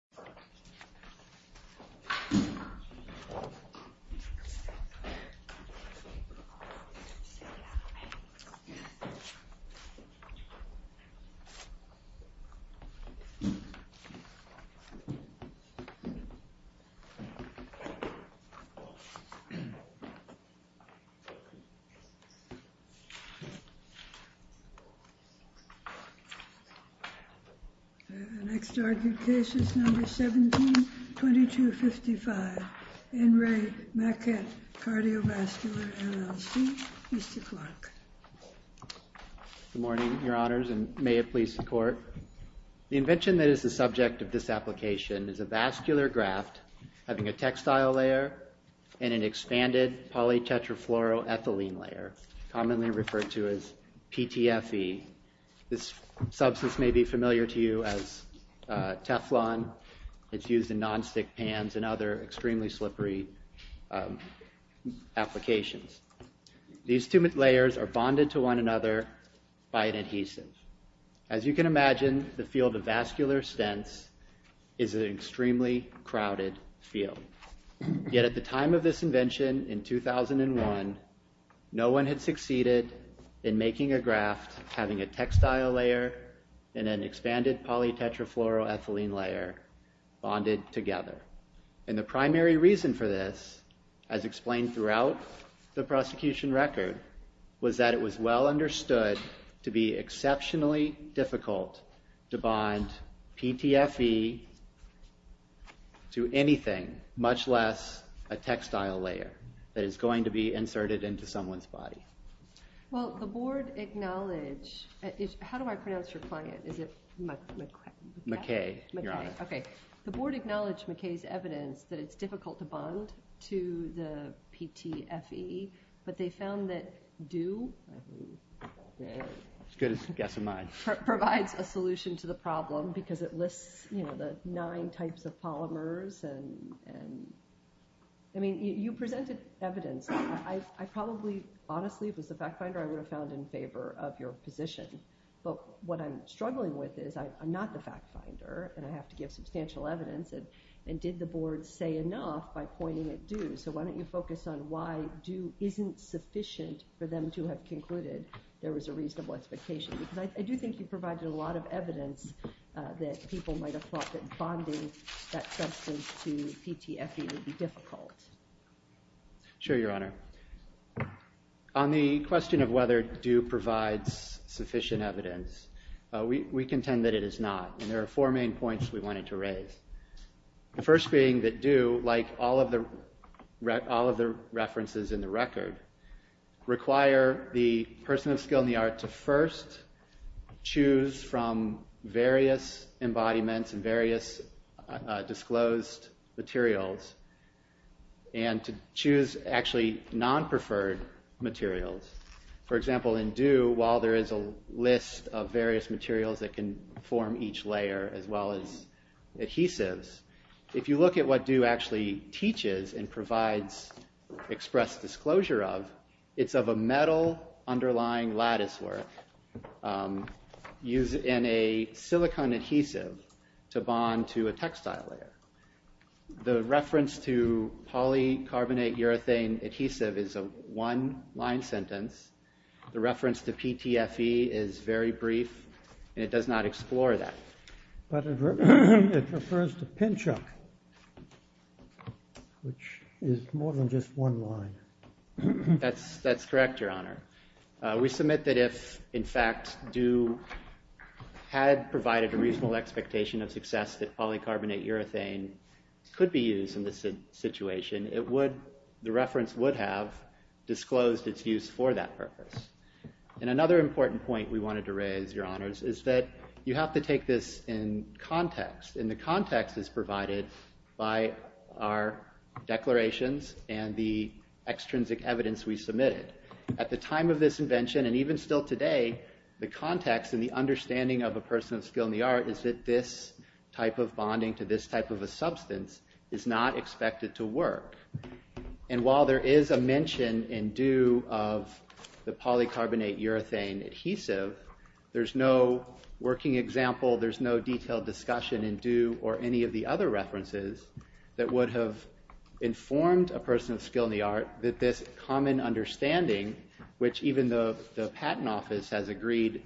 Dr. Mary Jo Cagle, M.D., Chief of Cardiothoracic Surgery, U.S. Department of Cardiothoracic Surgery, 17-2255, N. Re Maquet Cardiovascular, LLC. Mr. Clark. Good morning, Your Honors, and may it please the Court. The invention that is the subject of this application is a vascular graft having a textile layer and an expanded polytetrafluoroethylene layer, commonly referred to as PTFE. This substance may be familiar to you as Teflon. It's used in nonstick pans and other extremely slippery applications. These two layers are bonded to one another by an adhesive. As you can imagine, the field of vascular stents is an extremely crowded field. Yet at the time of this invention in 2001, no one had succeeded in making a graft having a textile layer and an expanded polytetrafluoroethylene layer bonded together. And the primary reason for this, as explained throughout the prosecution record, was that it was well understood to be exceptionally difficult to bond PTFE to anything, much less a textile layer that is going to be inserted into someone's body. Well, the Board acknowledged... How do I pronounce your client? Is it Maquet? Maquet, Your Honor. Okay. The Board acknowledged Maquet's evidence that it's difficult to bond to the PTFE, but they found that dew... As good as a guess of mine. ...provides a solution to the problem because it lists the nine types of polymers and... I mean, you presented evidence. I probably, honestly, if it was the fact finder, I would have found in favor of your position. But what I'm struggling with is I'm not the fact finder, and I have to give substantial evidence. And did the Board say enough by pointing at dew? So why don't you focus on why dew isn't sufficient for them to have concluded there was a reasonable expectation? Because I do think you provided a lot of evidence that people might have thought that bonding that substance to PTFE would be difficult. Sure, Your Honor. On the question of whether dew provides sufficient evidence, we contend that it is not. And there are four main points we wanted to raise. The first being that dew, like all of the references in the record, require the person of skill in the art to first choose from various embodiments and various disclosed materials, and to choose actually non-preferred materials. For example, in dew, while there is a list of various materials that can form each layer, as well as adhesives, if you look at what dew actually teaches and provides express disclosure of, it's of a metal underlying lattice work used in a silicone adhesive to bond to a textile layer. The reference to polycarbonate urethane adhesive is a one line sentence. The reference to PTFE is very brief, and it does not explore that. But it refers to Pinchuk, which is more than just one line. That's correct, Your Honor. We submit that if, in fact, dew had provided a reasonable expectation of success that polycarbonate urethane could be used in this situation, the reference would have disclosed its use for that purpose. Another important point we wanted to raise, Your Honors, is that you have to take this in context, and the context is provided by our declarations and the extrinsic evidence we submitted. At the time of this invention, and even still today, the context and the understanding of a person of skill in the art is that this type of bonding to this type of a substance is not expected to work. And while there is a mention in dew of the polycarbonate urethane adhesive, there's no working example, there's no detailed discussion in dew or any of the other references that would have informed a person of skill in the art that this common understanding, which even the Patent Office has agreed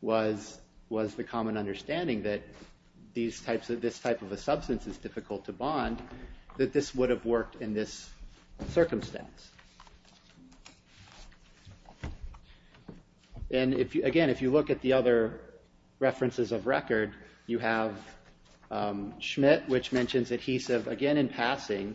was the common understanding that this type of a substance is difficult to bond, that this would have worked in this circumstance. And again, if you look at the other references of record, you have Schmidt, which mentions adhesive again in passing,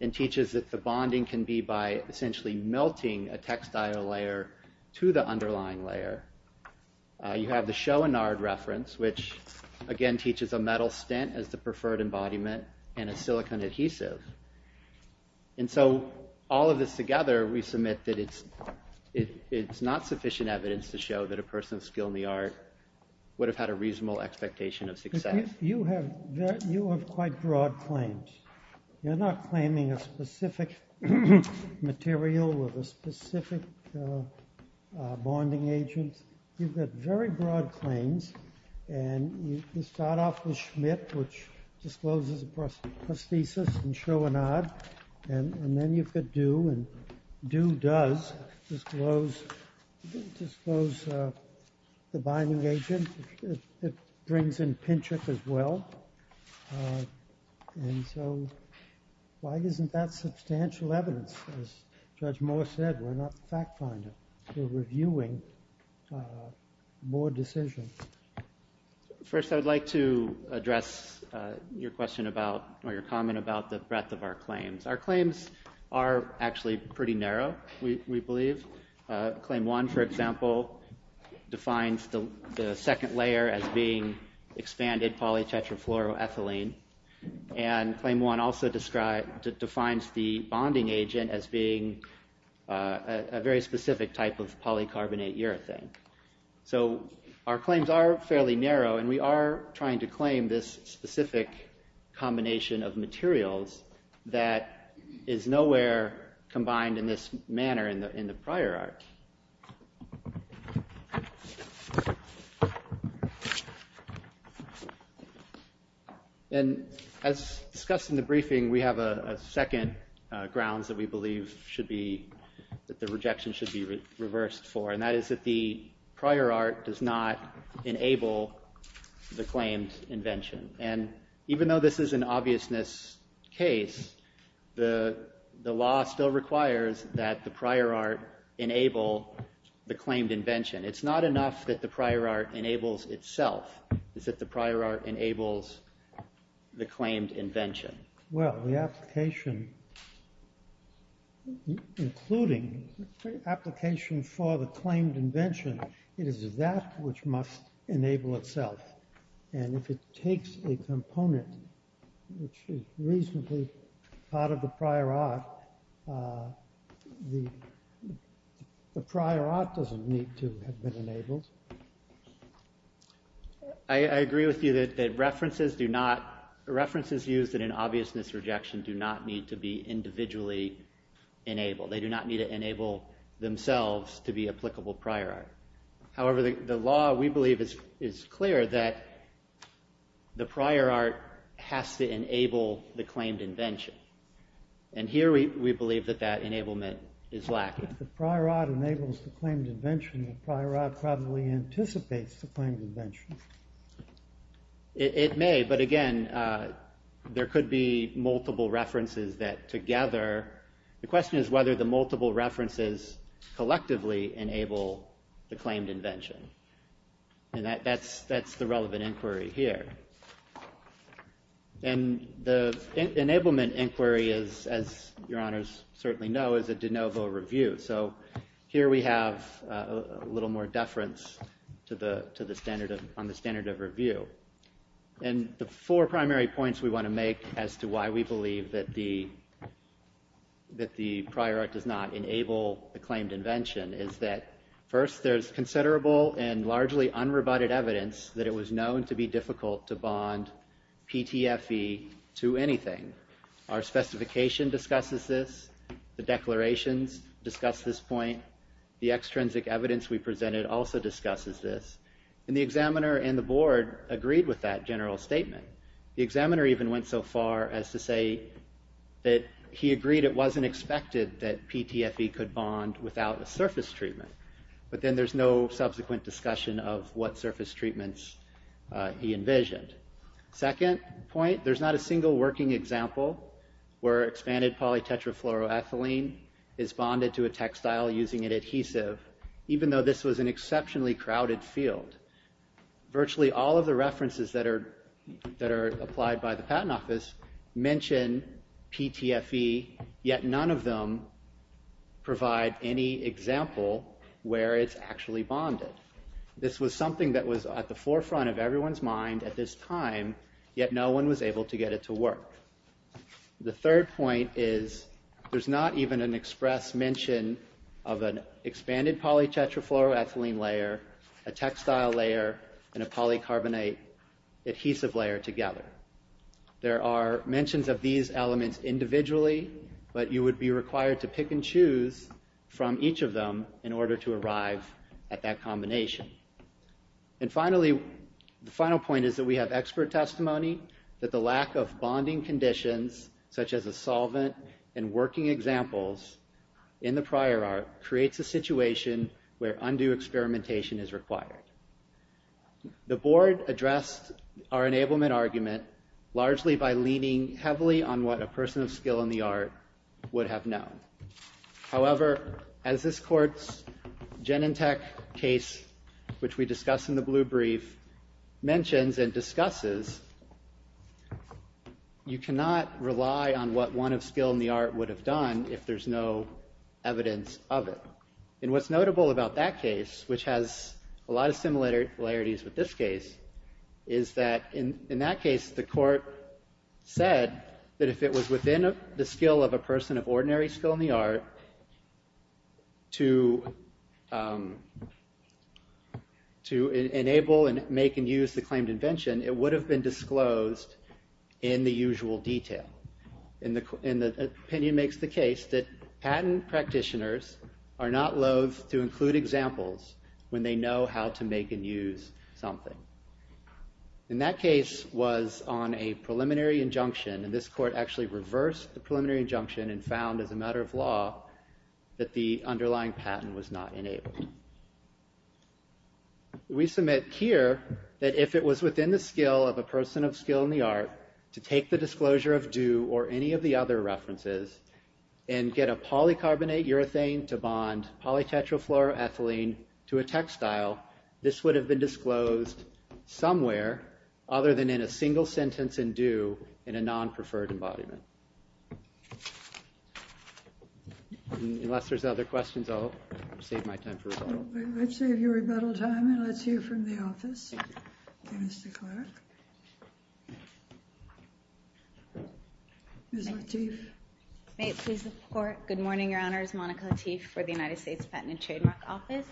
and teaches that the bonding can be by essentially melting a textile layer to the underlying layer. You have the Schoenard reference, which again teaches a metal stent as the preferred embodiment, and a silicon adhesive. And so all of this together, we submit that it's not sufficient evidence to show that a person of skill in the art would have had a reasonable expectation of success. You have quite broad claims. You're not claiming a specific material with a specific bonding agent. You've got very broad claims, and you start off with Schmidt, which discloses prosthesis in Schoenard, and then you've got dew, and dew does disclose the binding agent. It brings in Pinchuk as well. And so why isn't that substantial evidence? As Judge Moore said, we're not fact-finding. We're reviewing more decisions. First, I would like to address your question about, or your comment about, the breadth of our claims. Our claims are actually pretty narrow, we believe. Claim 1, for example, defines the second layer as being expanded polytetrafluoroethylene, and Claim 1 also defines the bonding agent as being a very specific type of polycarbonate urethane. So our claims are fairly narrow, and we are trying to claim this specific combination of materials that is nowhere combined in this manner in the prior art. And, as discussed in the briefing, we have a second grounds that we believe should be, that the rejection should be reversed for, and that is that the prior art does not enable the claims invention. And even though this is an obviousness case, the law still requires that the prior art enable the claimed invention. It's not enough that the prior art enables itself, it's that the prior art enables the claimed invention. Well, the application, including the application for the claimed invention, is that which must enable itself. And if it takes a component which is reasonably part of the prior art then the prior art doesn't need to have been enabled. I agree with you that references do not, references used in an obviousness rejection do not need to be individually enabled. They do not need to enable themselves to be applicable prior art. However, the law, we believe, is clear that the prior art has to enable the claimed invention. And here we believe that that enablement is lacking. If the prior art enables the claimed invention, the prior art probably anticipates the claimed invention. It may, but again, there could be multiple references that together, the question is whether the multiple references collectively enable the claimed invention. And that's the relevant inquiry here. And the enablement inquiry is, as your honors certainly know, is a de novo review. So here we have a little more deference to the standard, on the standard of review. And the four primary points we want to make as to why we believe that the prior art does not enable the claimed invention is that first, there's considerable and largely unrebutted evidence that it was known to be difficult to bond PTFE to anything. Our specification discusses this. The declarations discuss this point. The extrinsic evidence we presented also discusses this. And the examiner and the board agreed with that general statement. The examiner even went so far as to say that he agreed it wasn't expected that PTFE could bond without a surface treatment. But then there's no subsequent discussion of what surface treatments he envisioned. Second point, there's not a single working example where expanded polytetrafluoroethylene is bonded to a textile using an adhesive, even though this was an exceptionally crowded field. Virtually all of the references that are applied by the patent office mention PTFE, yet none of them provide any example where it's actually bonded. This was something that was at the forefront of everyone's mind at this time, yet no one was able to get it to work. The third point is there's not even an express mention of an expanded polytetrafluoroethylene layer, a textile layer, and a polycarbonate adhesive layer together. There are mentions of these elements individually, but you would be required to pick and choose from each of them in order to arrive at that combination. And finally, the final point is that we have expert testimony that the lack of bonding conditions such as a solvent and working examples in the prior art creates a situation where undue experimentation is required. The board addressed our enablement argument largely by leaning heavily on what a person of skill in the art would have known. However, as this court's Genentech case, which we discuss in the blue brief, mentions and discusses, you cannot rely on what one of skill in the art would have done if there's no evidence of it. And what's notable about that case, which has a lot of similarities with this case, is that in that case the court said that if it was within the skill of a person of ordinary skill in the art to enable and make and use the claimed invention, it would have been disclosed in the usual detail. And the opinion makes the case that patent practitioners are not loath to include examples when they know how to make and use something. And that case was on a preliminary injunction, and this court actually reversed the preliminary injunction and found as a matter of law that the underlying patent was not enabled. We submit here that if it was within the skill of a person of skill in the art to take the do or any of the other references and get a polycarbonate urethane to bond polytetrafluoroethylene to a textile, this would have been disclosed somewhere other than in a single sentence and do in a non-preferred embodiment. Unless there's other questions, I'll save my time for rebuttal. Let's save your rebuttal time and let's hear from the office. Ms. Lateef. May it please the court. Good morning, Your Honors. Monica Lateef for the United States Patent and Trademark Office.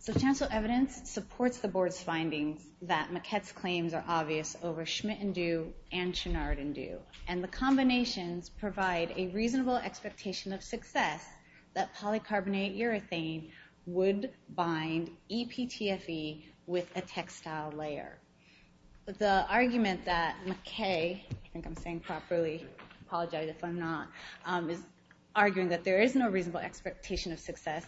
So chancellor evidence supports the board's findings that Maquette's claims are obvious over Schmidt and Due and Chouinard and Due. And the combinations provide a reasonable expectation of success that polycarbonate urethane would bind EPTFE with a textile layer. The argument that Maquette, I think I'm saying properly, apologize if I'm not, is arguing that there is no reasonable expectation of success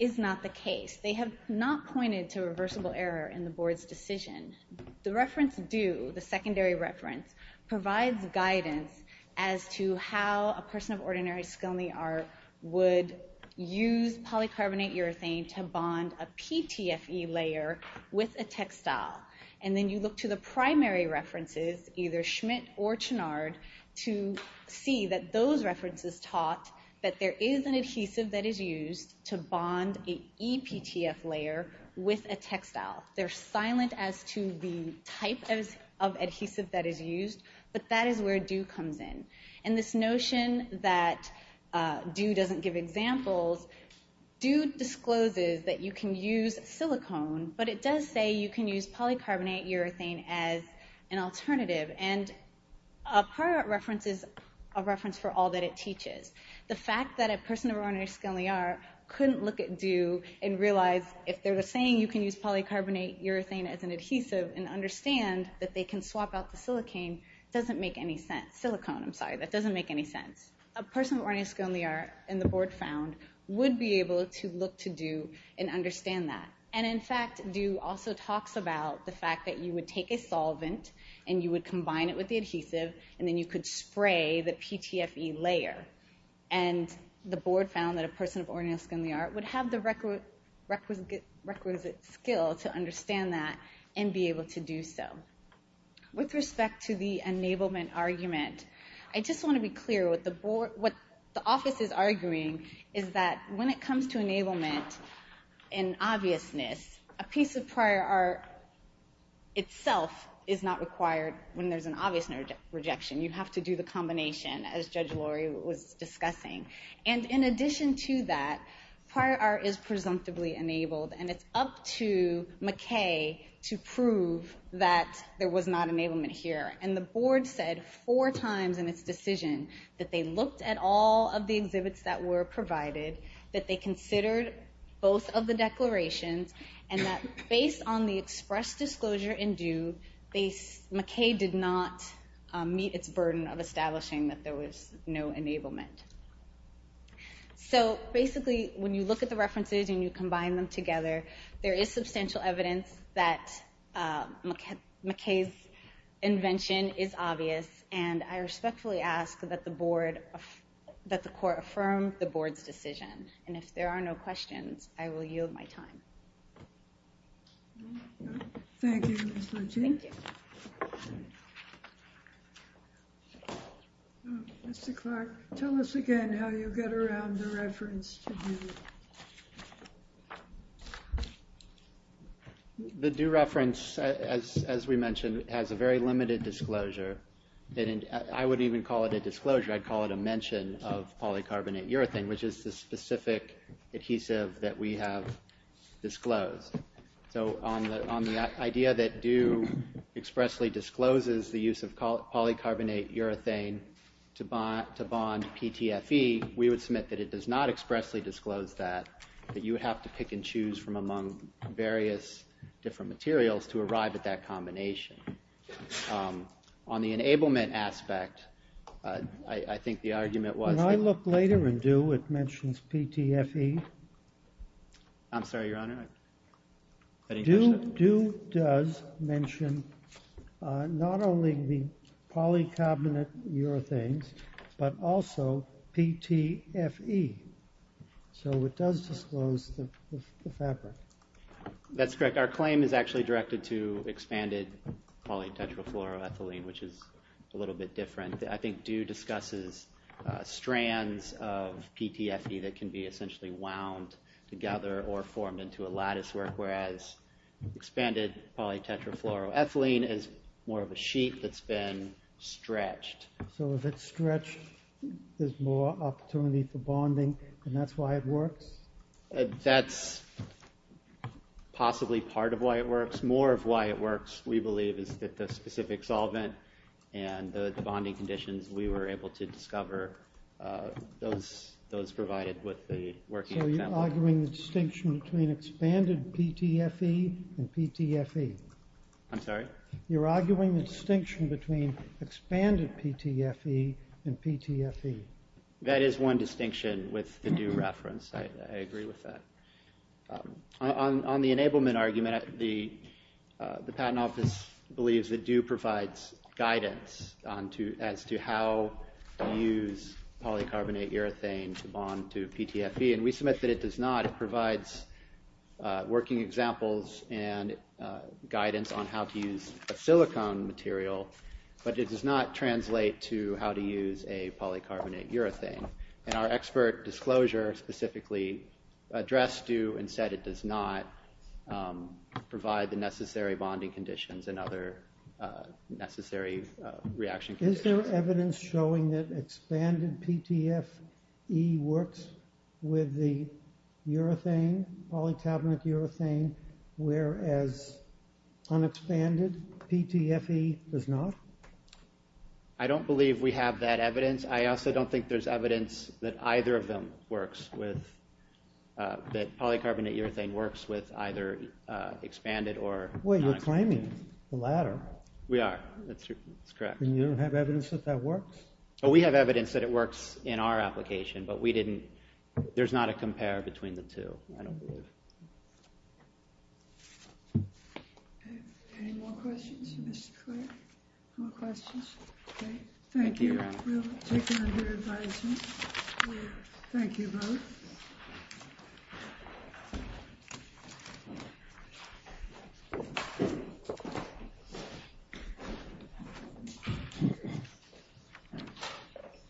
is not the case. They have not pointed to reversible error in the board's decision. The reference Due, the secondary reference, provides guidance as to how a person of ordinary skill in the art would use polycarbonate urethane to bond a PTFE layer with a textile. And then you look to the primary references, either Schmidt or Chouinard, to see that those references taught that there is an adhesive that is used to bond an EPTF layer with a textile. They're silent as to the type of adhesive that is used, but that is where Due comes in. And this notion that Due doesn't give examples, Due discloses that you can use silicone, but it does say you can use polycarbonate urethane as an alternative. And a prior reference is a reference for all that it teaches. The fact that a person of ordinary skill in the art couldn't look at Due and realize if they're saying you can use polycarbonate urethane as an adhesive and understand that they can swap out the silicone, that doesn't make any sense. A person of ordinary skill in the art, and the board found, would be able to look to and understand that. And in fact, Due also talks about the fact that you would take a solvent and you would combine it with the adhesive, and then you could spray the PTFE layer. And the board found that a person of ordinary skill in the art would have the requisite skill to understand that and be able to do so. With respect to the enablement argument, I just want to be clear, what the office is With respect to enablement and obviousness, a piece of prior art itself is not required when there's an obvious rejection. You have to do the combination, as Judge Lori was discussing. And in addition to that, prior art is presumptively enabled, and it's up to McKay to prove that there was not enablement here. And the board said four times in its decision that they looked at all of the exhibits that were provided, that they considered both of the declarations, and that based on the express disclosure in Due, McKay did not meet its burden of establishing that there was no enablement. So basically, when you look at the references and you combine them together, there is substantial evidence that McKay's invention is obvious. And I respectfully ask that the court affirm the board's decision. And if there are no questions, I will yield my time. Thank you, Ms. Luchy. Thank you. Mr. Clark, tell us again how you get around the reference to Due. The Due reference, as we mentioned, has a very limited disclosure. I wouldn't even call it a disclosure, I'd call it a mention of polycarbonate urethane, which is the specific adhesive that we have disclosed. So on the idea that Due expressly discloses the use of polycarbonate urethane to bond PTFE, we would submit that it does not expressly disclose that, that you would have to pick and choose from among various different materials to arrive at that combination. On the enablement aspect, I think the argument was that... When I look later in Due, it mentions PTFE. I'm sorry, Your Honor? Due does mention not only the polycarbonate urethanes, but also PTFE. So it does disclose the fabric. That's correct. Our claim is actually directed to expanded polytetrafluoroethylene, which is a little bit different. I think Due discusses strands of PTFE that can be essentially wound together or formed into a latticework, whereas expanded polytetrafluoroethylene is more of a sheet that's been stretched. So if it's stretched, there's more opportunity for bonding, and that's why it works? That's possibly part of why it works. More of why it works, we believe, is that the specific solvent and the bonding conditions, we were able to discover those provided with the working content. So you're arguing the distinction between expanded PTFE and PTFE? I'm sorry? You're arguing the distinction between expanded PTFE and PTFE? That is one distinction with the Due reference. I agree with that. On the enablement argument, the Patent Office believes that Due provides guidance as to how to use polycarbonate urethane to bond to PTFE. We submit that it does not. It provides working examples and guidance on how to use a silicone material, but it does not translate to how to use a polycarbonate urethane. Our expert disclosure specifically addressed Due and said it does not provide the necessary bonding conditions and other necessary reaction conditions. Is there evidence showing that expanded PTFE works with the polycarbonate urethane, whereas unexpanded PTFE does not? I don't believe we have that evidence. I also don't think there's evidence that either of them works with, that polycarbonate urethane works with either expanded or unexpanded. Well, you're claiming the latter. We are. That's correct. And you don't have evidence that that works? We have evidence that it works in our application, but we didn't, there's not a compare between the two. I don't believe. Any more questions, Mr. Clerk? More questions? Okay. Thank you. We'll take them under advisement. Thank you both.